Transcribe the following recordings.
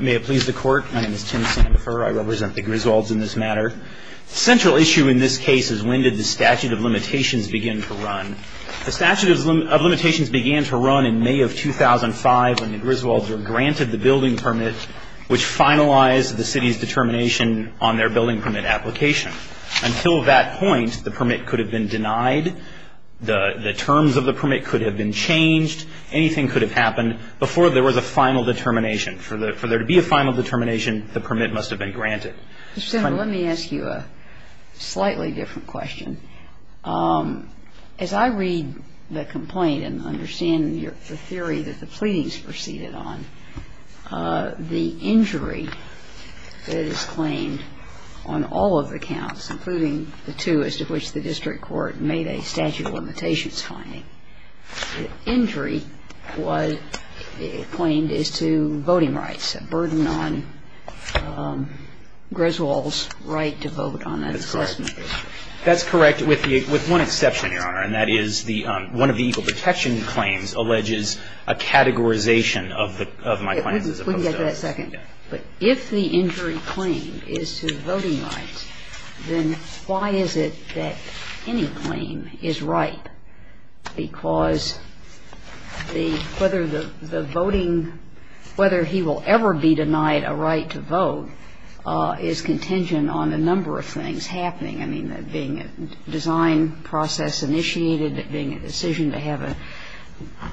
May it please the court. My name is Tim Sandifer. I represent the Griswolds in this matter. The central issue in this case is when did the statute of limitations begin to run. The statute of limitations began to run in May of 2005 when the Griswolds were granted the building permit which finalized the city's determination on their building permit application. Until that point, the permit could have been denied. The terms of the permit could have been changed. Anything could have happened before there was a final determination. For there to be a final determination, the permit must have been granted. Senator, let me ask you a slightly different question. As I read the complaint and understand the theory that the pleadings proceeded on, the injury that is claimed on all of the counts, including the two as to which the district court made a statute of limitations finding, the injury was claimed as to voting rights, a burden on Griswold's right to vote on that assessment. That's correct. With one exception, Your Honor, and that is one of the equal protection claims alleges a categorization of my claims as opposed to others. We can get to that in a second. But if the injury claim is to voting rights, then why is it that any claim is ripe because the ‑‑ whether the voting ‑‑ whether he will ever be denied a right to vote is contingent on a number of things happening. I mean, that being a design process initiated, that being a decision to have an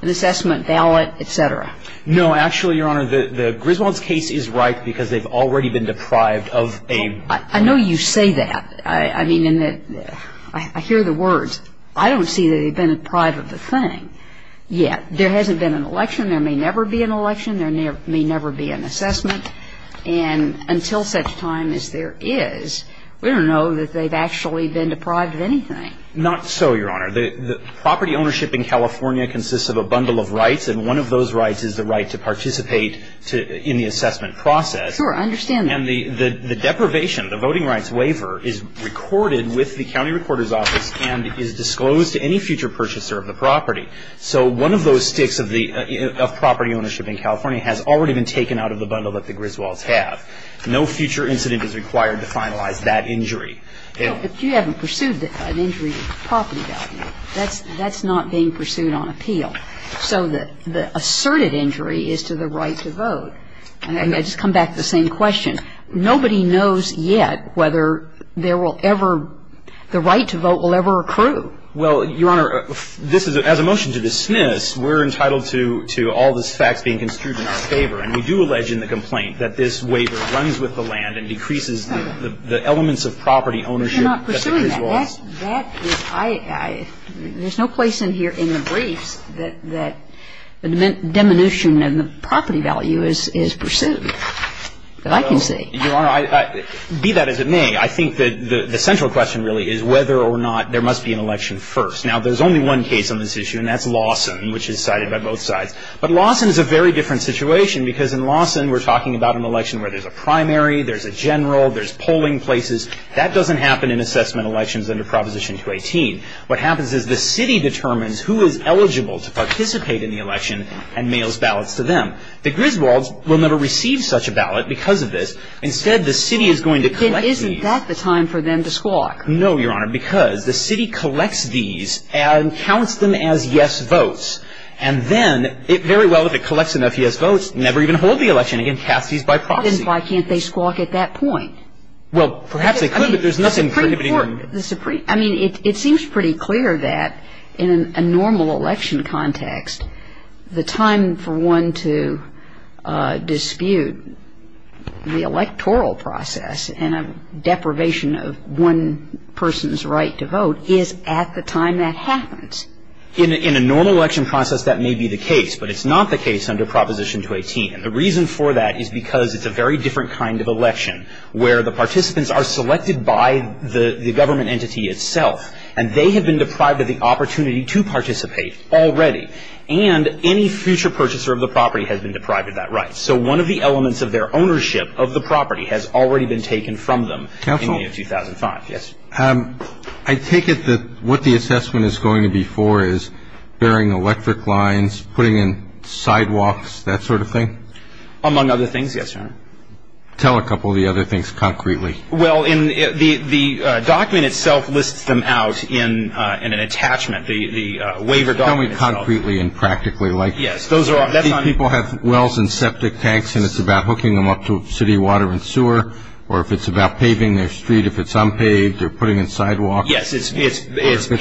assessment ballot, et cetera. No, actually, Your Honor, Griswold's case is ripe because they've already been deprived of a ‑‑ I know you say that. I mean, in the ‑‑ I hear the words. I don't see that they've been deprived of a thing yet. There hasn't been an election. There may never be an election. There may never be an assessment. And until such time as there is, we don't know that they've actually been deprived of anything. Not so, Your Honor. The property ownership in California consists of a bundle of rights, and one of those rights is the right to participate in the assessment process. Sure. I understand that. And the deprivation, the voting rights waiver, is recorded with the county recorder's office and is disclosed to any future purchaser of the property. So one of those sticks of property ownership in California has already been taken out of the bundle that the Griswolds have. No future incident is required to finalize that injury. No, if you haven't pursued an injury with the property document, that's not being pursued on appeal. So the asserted injury is to the right to vote. And I just come back to the same question. Nobody knows yet whether there will ever – the right to vote will ever accrue. Well, Your Honor, this is – as a motion to dismiss, we're entitled to all the facts being construed in our favor. And we do allege in the complaint that this waiver runs with the land and decreases the elements of property ownership at the Griswolds. But you're not pursuing that. That's – that is – I – there's no place in here in the briefs that the diminution of the property value is pursued. But I can say – Your Honor, be that as it may, I think that the central question really is whether or not there must be an election first. Now, there's only one case on this issue, and that's Lawson, which is cited by both sides. But Lawson is a very different situation, because in Lawson we're talking about an election where there's a primary, there's a general, there's polling places. That doesn't happen in assessment elections under Proposition 218. What happens is the city determines who is eligible to participate in the election and mails ballots to them. The Griswolds will never receive such a ballot because of this. Instead, the city is going to collect these. Then isn't that the time for them to squawk? No, Your Honor, because the city collects these and counts them as yes votes. And then it very well, if it collects enough yes votes, never even hold the election and cast these by proxy. Then why can't they squawk at that point? Well, perhaps they could, but there's nothing precipitating them. I mean, it seems pretty clear that in a normal election context, the time for one to dispute the electoral process and a deprivation of one person's right to vote is at the time that happens. In a normal election process, that may be the case, but it's not the case under Proposition 218. And the reason for that is because it's a very different kind of election where the participants are selected by the government entity itself, and they have been deprived of the opportunity to participate already. And any future purchaser of the property has been deprived of that right. So one of the elements of their ownership of the property has already been taken from them in May of 2005. Counsel? Yes. I take it that what the assessment is going to be for is bearing electric lines, putting in sidewalks, that sort of thing? Among other things, yes, Your Honor. Tell a couple of the other things concretely. Well, the document itself lists them out in an attachment, the waiver document itself. Tell me concretely and practically. People have wells and septic tanks, and it's about hooking them up to city water and sewer, or if it's about paving their street, if it's unpaved, or putting in sidewalks. Yes, it's paving sidewalks. It's like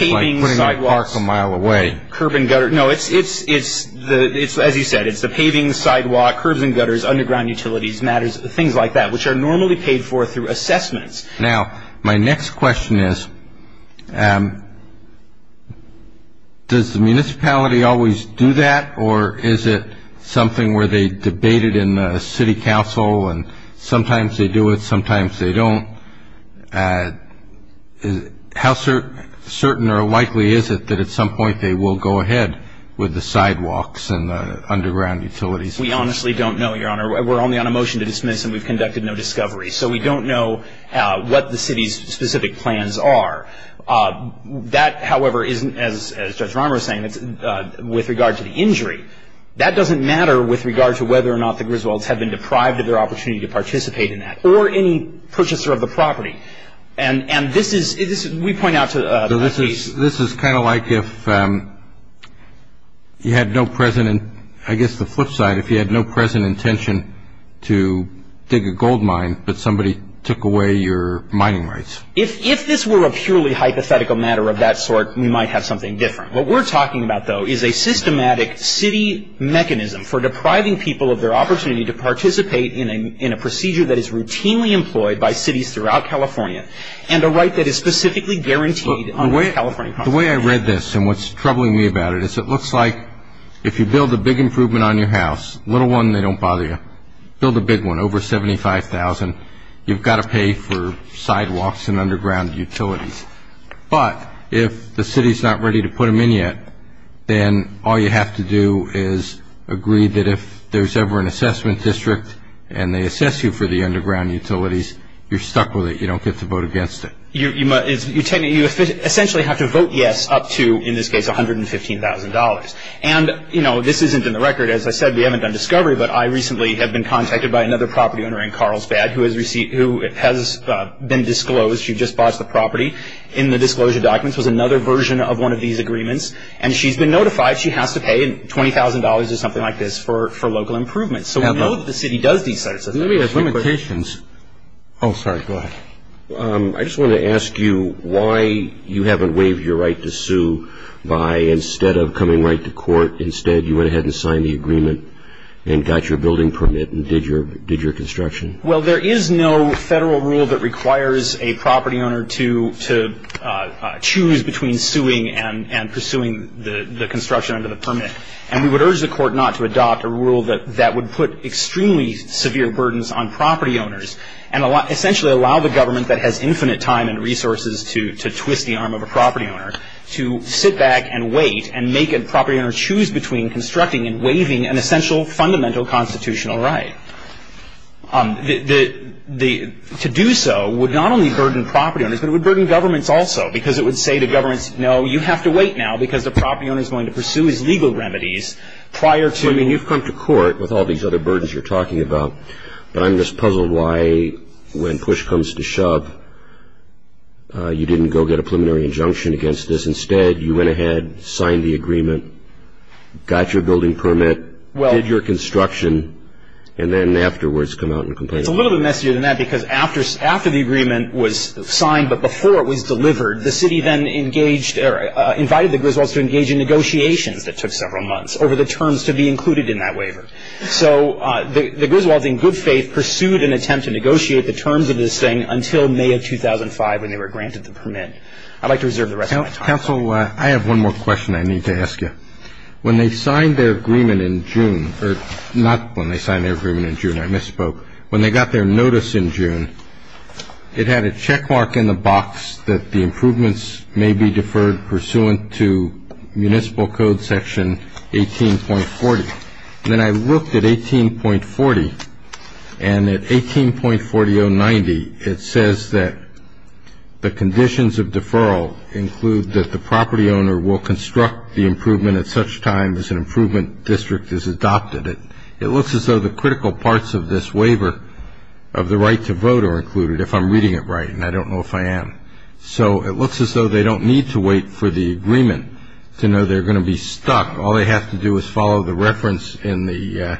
putting a park a mile away. Curb and gutter. No, it's, as you said, it's the paving, sidewalk, curbs and gutters, underground utilities, matters, things like that, which are normally paid for through assessments. Now, my next question is, does the municipality always do that, or is it something where they debate it in the city council, and sometimes they do it, sometimes they don't? How certain or likely is it that at some point they will go ahead with the sidewalks and the underground utilities? We honestly don't know, Your Honor. We're only on a motion to dismiss, and we've conducted no discovery. So we don't know what the city's specific plans are. That, however, isn't, as Judge Rahmer was saying, with regard to the injury. That doesn't matter with regard to whether or not the Griswolds have been deprived of their opportunity to participate in that, or any purchaser of the property. And this is, we point out to the police. This is kind of like if you had no present, I guess the flip side, if you had no present intention to dig a gold mine, but somebody took away your mining rights. If this were a purely hypothetical matter of that sort, we might have something different. What we're talking about, though, is a systematic city mechanism for depriving people of their opportunity to participate in a procedure that is routinely employed by cities throughout California, and a right that is specifically guaranteed under the California Constitution. The way I read this, and what's troubling me about it, is it looks like if you build a big improvement on your house, little one, they don't bother you. Build a big one, over $75,000, you've got to pay for sidewalks and underground utilities. But if the city's not ready to put them in yet, then all you have to do is agree that if there's ever an assessment district and they assess you for the underground utilities, you're stuck with it. You don't get to vote against it. You essentially have to vote yes up to, in this case, $115,000. And this isn't in the record. As I said, we haven't done discovery, but I recently have been contacted by another property owner in Carlsbad who has been disclosed. She just bought the property. In the disclosure documents was another version of one of these agreements. And she's been notified she has to pay $20,000 or something like this for local improvements. So we know that the city does these sorts of things. Oh, sorry. Go ahead. I just wanted to ask you why you haven't waived your right to sue by instead of coming right to court, instead you went ahead and signed the agreement and got your building permit and did your construction? Well, there is no federal rule that requires a property owner to choose between suing and pursuing the construction under the permit. And we would urge the court not to adopt a rule that would put extremely severe burdens on property owners and essentially allow the government that has infinite time and resources to twist the arm of a property owner to sit back and wait and make a property owner choose between constructing and waiving an essential fundamental constitutional right. To do so would not only burden property owners, but it would burden governments also, because it would say to governments, no, you have to wait now because the property owner is going to pursue his legal remedies prior to. I mean, you've come to court with all these other burdens you're talking about, but I'm just puzzled why when push comes to shove you didn't go get a preliminary injunction against this. Instead, you went ahead, signed the agreement, got your building permit, did your construction, and then afterwards come out and complain. It's a little bit messier than that because after the agreement was signed but before it was delivered, the city then engaged or invited the Griswolds to engage in negotiations that took several months over the terms to be included in that waiver. So the Griswolds, in good faith, pursued an attempt to negotiate the terms of this thing until May of 2005 when they were granted the permit. I'd like to reserve the rest of my time. Counsel, I have one more question I need to ask you. When they signed their agreement in June, or not when they signed their agreement in June, I misspoke. When they got their notice in June, it had a checkmark in the box that the improvements may be deferred pursuant to Municipal Code Section 18.40. Then I looked at 18.40, and at 18.40-090, it says that the conditions of deferral include that the property owner will construct the improvement at such time as an improvement district is adopted. It looks as though the critical parts of this waiver of the right to vote are included, if I'm reading it right, and I don't know if I am. So it looks as though they don't need to wait for the agreement to know they're going to be stuck. All they have to do is follow the reference in the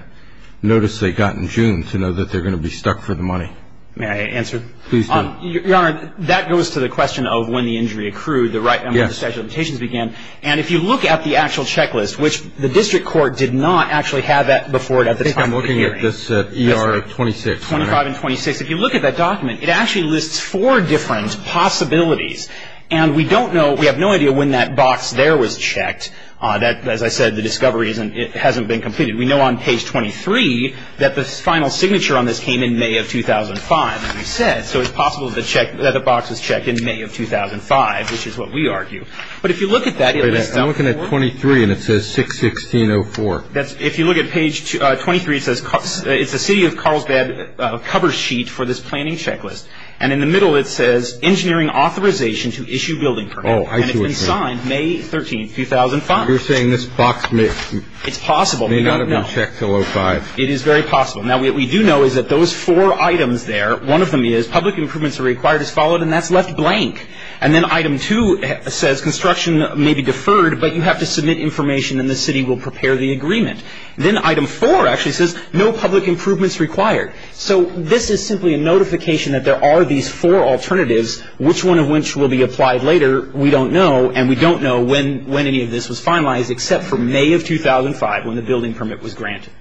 notice they got in June to know that they're going to be stuck for the money. May I answer? Please do. Your Honor, that goes to the question of when the injury accrued and when the statute of limitations began. And if you look at the actual checklist, which the district court did not actually have that before at the time of the hearing. I think I'm looking at this ER 26. 25 and 26. If you look at that document, it actually lists four different possibilities. And we don't know, we have no idea when that box there was checked. As I said, the discovery hasn't been completed. We know on page 23 that the final signature on this came in May of 2005, as we said. So it's possible that the box was checked in May of 2005, which is what we argue. But if you look at that. I'm looking at 23, and it says 6-16-04. If you look at page 23, it says it's the city of Carlsbad cover sheet for this planning checklist. And in the middle it says engineering authorization to issue building permits. And it's been signed May 13, 2005. You're saying this box may not have been checked until 05. It is very possible. Now, what we do know is that those four items there, one of them is public improvements are required as followed, and that's left blank. And then item two says construction may be deferred, but you have to submit information and the city will prepare the agreement. Then item four actually says no public improvements required. So this is simply a notification that there are these four alternatives, which one of which will be applied later. We don't know. And we don't know when any of this was finalized except for May of 2005 when the building permit was granted.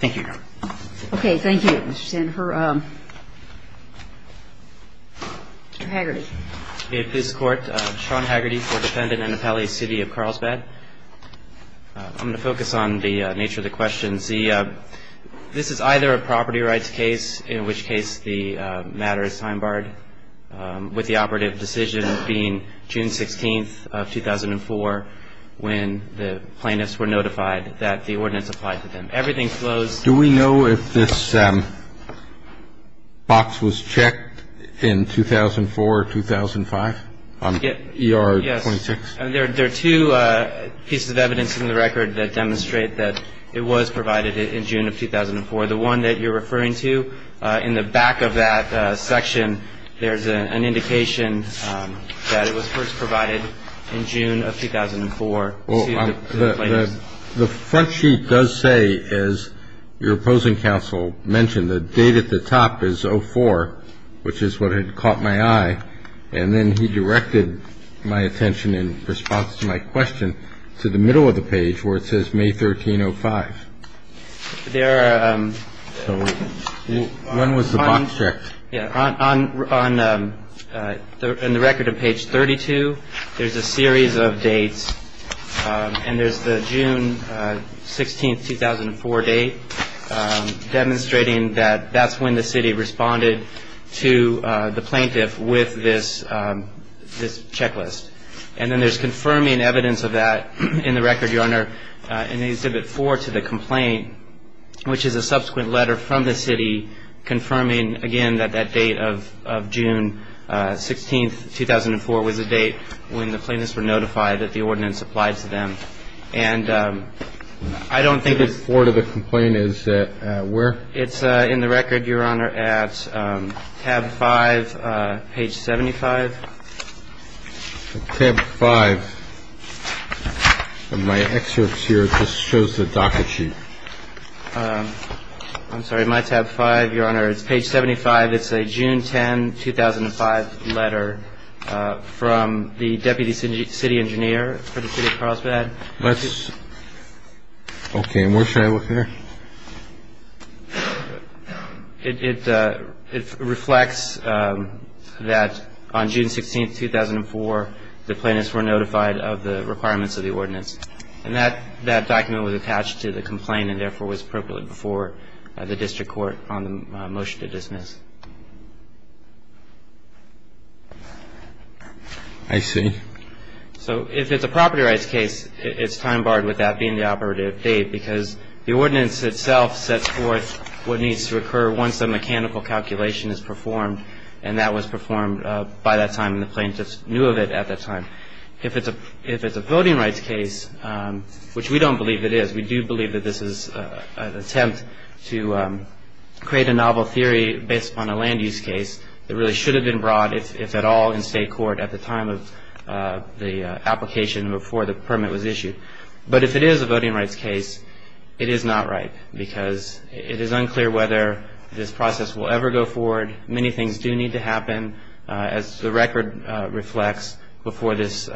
Thank you, Your Honor. Okay. Thank you, Mr. Sandefur. Mr. Haggerty. May it please the Court. Sean Haggerty for defendant Annapelle, City of Carlsbad. I'm going to focus on the nature of the questions. This is either a property rights case, in which case the matter is time barred, with the operative decision being June 16th of 2004 when the plaintiffs were notified that the ordinance applied to them. Everything flows. Do we know if this box was checked in 2004 or 2005 on ER 26? Yes. There are two pieces of evidence in the record that demonstrate that it was provided in June of 2004. The one that you're referring to in the back of that section, there's an indication that it was first provided in June of 2004 to the plaintiffs. The front sheet does say, as your opposing counsel mentioned, the date at the top is 04, which is what had caught my eye. And then he directed my attention in response to my question to the middle of the page where it says May 13, 05. When was the box checked? On the record on page 32, there's a series of dates. And there's the June 16th, 2004 date, demonstrating that that's when the city responded to the plaintiff with this checklist. And then there's confirming evidence of that in the record, Your Honor, in Exhibit 4 to the complaint, which is a subsequent letter from the city confirming, again, that that date of June 16th, 2004, was the date when the plaintiffs were notified that the ordinance applied to them. And I don't think it's – Exhibit 4 to the complaint is where? It's in the record, Your Honor, at tab 5, page 75. The tab 5 of my excerpts here just shows the docket sheet. I'm sorry. My tab 5, Your Honor, it's page 75. It's a June 10, 2005 letter from the deputy city engineer for the city of Carlsbad. Let's – okay. And where should I look there? It reflects that on June 16th, 2004, the plaintiffs were notified of the requirements of the ordinance. And that document was attached to the complaint and therefore was appropriate before the district court on the motion to dismiss. I see. So if it's a property rights case, it's time barred with that being the operative date because the ordinance itself sets forth what needs to occur once a mechanical calculation is performed, and that was performed by that time and the plaintiffs knew of it at that time. If it's a voting rights case, which we don't believe it is, we do believe that this is an attempt to create a novel theory based upon a land use case that really should have been brought, if at all, in state court at the time of the application before the permit was issued. But if it is a voting rights case, it is not right because it is unclear whether this process will ever go forward. Many things do need to happen, as the record reflects, before this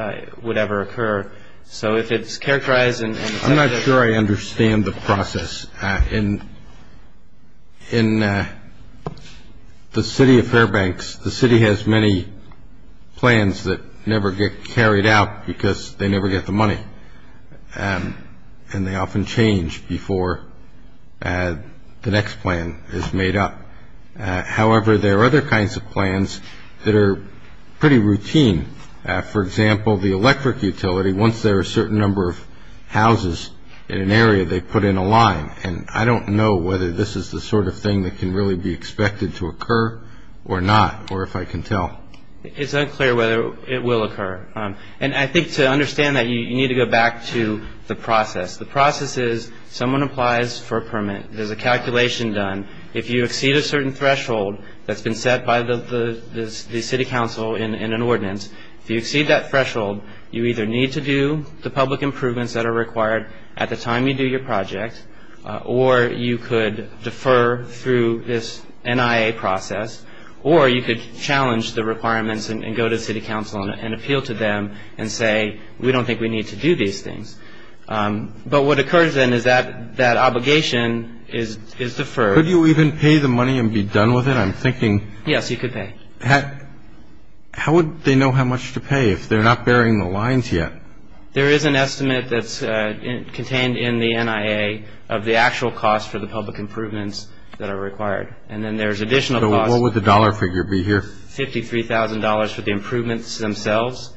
would ever occur. So if it's characterized in – I'm not sure I understand the process. In the city of Fairbanks, the city has many plans that never get carried out because they never get the money, and they often change before the next plan is made up. However, there are other kinds of plans that are pretty routine. For example, the electric utility, once there are a certain number of houses in an area, they put in a line, and I don't know whether this is the sort of thing that can really be expected to occur or not, or if I can tell. It's unclear whether it will occur. And I think to understand that, you need to go back to the process. The process is someone applies for a permit. There's a calculation done. If you exceed a certain threshold that's been set by the city council in an ordinance, if you exceed that threshold, you either need to do the public improvements that are required at the time you do your project, or you could defer through this NIA process, or you could challenge the requirements and go to city council and appeal to them and say, we don't think we need to do these things. But what occurs then is that that obligation is deferred. Could you even pay the money and be done with it? I'm thinking – Yes, you could pay. How would they know how much to pay if they're not burying the lines yet? There is an estimate that's contained in the NIA of the actual cost for the public improvements that are required. And then there's additional costs. So what would the dollar figure be here? $53,000 for the improvements themselves.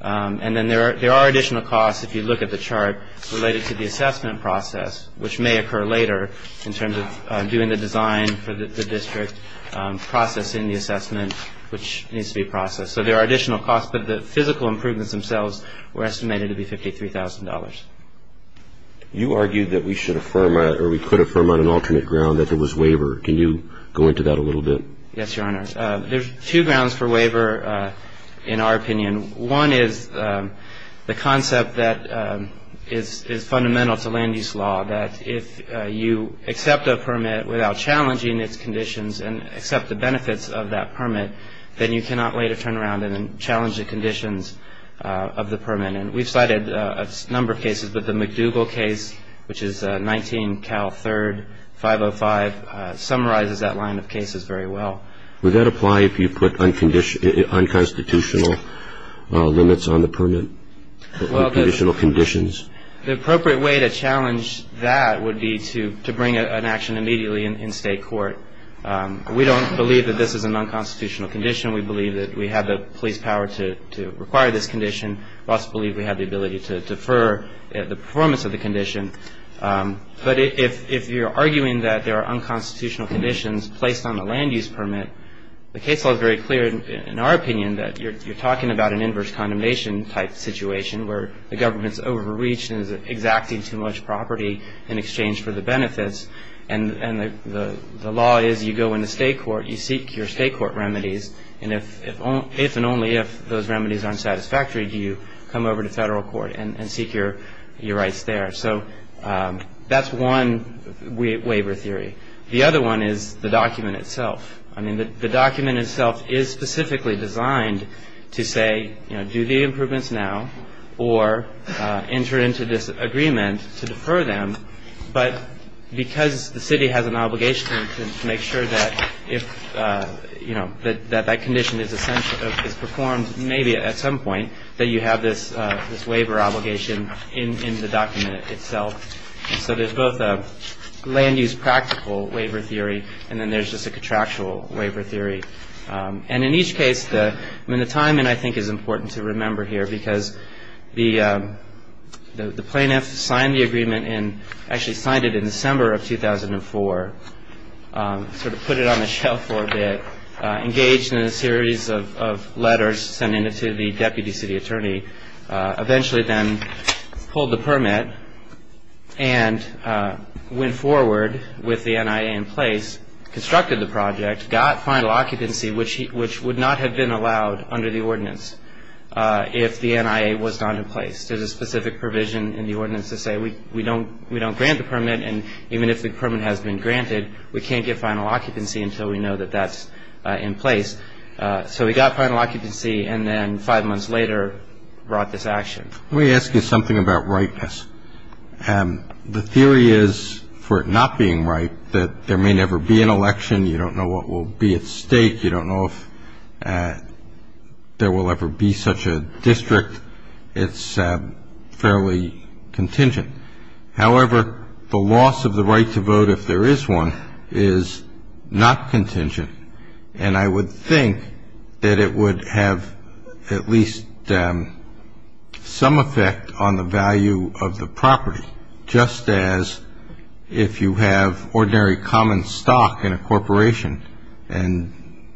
And then there are additional costs, if you look at the chart, related to the assessment process, which may occur later in terms of doing the design for the district, processing the assessment, which needs to be processed. So there are additional costs, but the physical improvements themselves were estimated to be $53,000. You argued that we should affirm or we could affirm on an alternate ground that there was waiver. Can you go into that a little bit? Yes, Your Honor. There's two grounds for waiver in our opinion. One is the concept that is fundamental to Lande's Law, that if you accept a permit without challenging its conditions and accept the benefits of that permit, then you cannot later turn around and challenge the conditions of the permit. And we've cited a number of cases, but the McDougall case, which is 19 Cal 3, 505, summarizes that line of cases very well. Would that apply if you put unconstitutional limits on the permit, unconditional conditions? Well, the appropriate way to challenge that would be to bring an action immediately in state court. We don't believe that this is an unconstitutional condition. We believe that we have the police power to require this condition. We also believe we have the ability to defer the performance of the condition. But if you're arguing that there are unconstitutional conditions placed on the land use permit, the case law is very clear in our opinion that you're talking about an inverse condemnation type situation where the government's overreached and is exacting too much property in exchange for the benefits, and the law is you go into state court, you seek your state court remedies, and if and only if those remedies aren't satisfactory, do you come over to federal court and seek your rights there. So that's one waiver theory. The other one is the document itself. I mean, the document itself is specifically designed to say, you know, do the improvements now or enter into this agreement to defer them, but because the city has an obligation to make sure that if, you know, that that condition is performed, maybe at some point that you have this waiver obligation in the document itself. So there's both a land use practical waiver theory and then there's just a contractual waiver theory. And in each case, I mean, the timing I think is important to remember here because the plaintiff signed the agreement and actually signed it in December of 2004, sort of put it on the shelf for a bit, engaged in a series of letters, sent in to the deputy city attorney, eventually then pulled the permit and went forward with the NIA in place, constructed the project, got final occupancy, which would not have been allowed under the ordinance if the NIA was not in place. There's a specific provision in the ordinance to say we don't grant the permit, and even if the permit has been granted, we can't get final occupancy until we know that that's in place. So we got final occupancy and then five months later brought this action. Let me ask you something about rightness. The theory is, for it not being right, that there may never be an election. You don't know what will be at stake. You don't know if there will ever be such a district. It's fairly contingent. However, the loss of the right to vote, if there is one, is not contingent. And I would think that it would have at least some effect on the value of the property, just as if you have ordinary common stock in a corporation and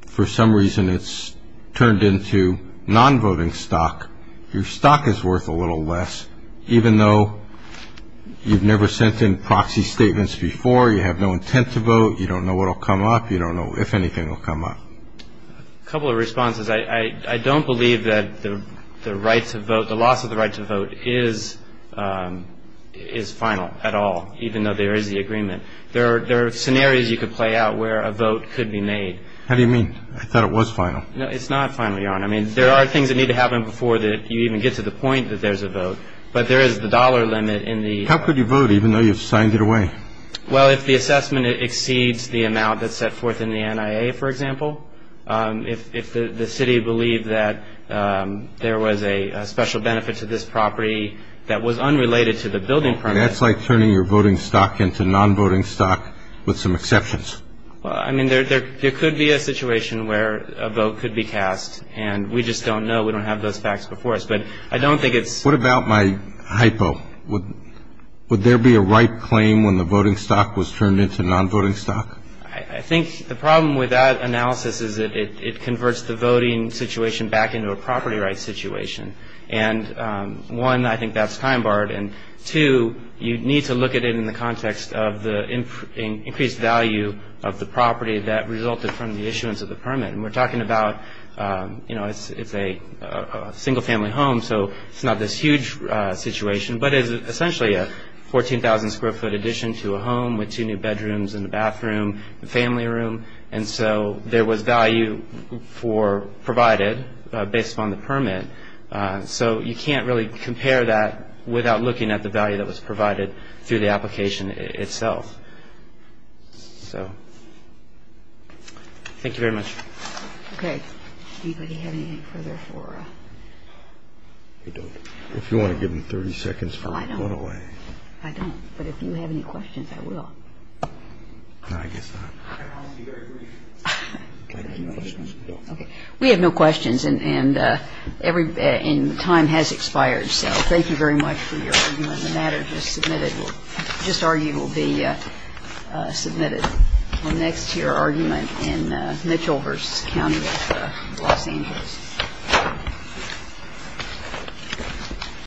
for some reason it's turned into non-voting stock, your stock is worth a little less. Even though you've never sent in proxy statements before, you have no intent to vote, you don't know what will come up, you don't know if anything will come up. A couple of responses. I don't believe that the right to vote, the loss of the right to vote is final at all, even though there is the agreement. There are scenarios you could play out where a vote could be made. How do you mean? I thought it was final. No, it's not final, Your Honor. I mean, there are things that need to happen before you even get to the point that there's a vote. But there is the dollar limit in the ---- How could you vote even though you've signed it away? Well, if the assessment exceeds the amount that's set forth in the NIA, for example, if the city believed that there was a special benefit to this property that was unrelated to the building permit. That's like turning your voting stock into non-voting stock with some exceptions. Well, I mean, there could be a situation where a vote could be cast, and we just don't know, we don't have those facts before us. But I don't think it's ---- What about my hypo? Would there be a right claim when the voting stock was turned into non-voting stock? I think the problem with that analysis is that it converts the voting situation back into a property rights situation. And, one, I think that's time-barred. And, two, you need to look at it in the context of the increased value of the property that resulted from the issuance of the permit. And we're talking about, you know, it's a single-family home, so it's not this huge situation. But it's essentially a 14,000-square-foot addition to a home with two new bedrooms and a bathroom, a family room. And so there was value provided based upon the permit. So you can't really compare that without looking at the value that was provided through the application itself. So thank you very much. Okay. Anybody have anything further for us? If you want to give them 30 seconds, go ahead. I don't. I don't. But if you have any questions, I will. No, I guess not. Thank you very much. Okay. We have no questions. And every ---- and time has expired. So thank you very much for your argument. The matter just submitted will ---- just argued will be submitted. And next to your argument in Mitchellhurst County, Los Angeles.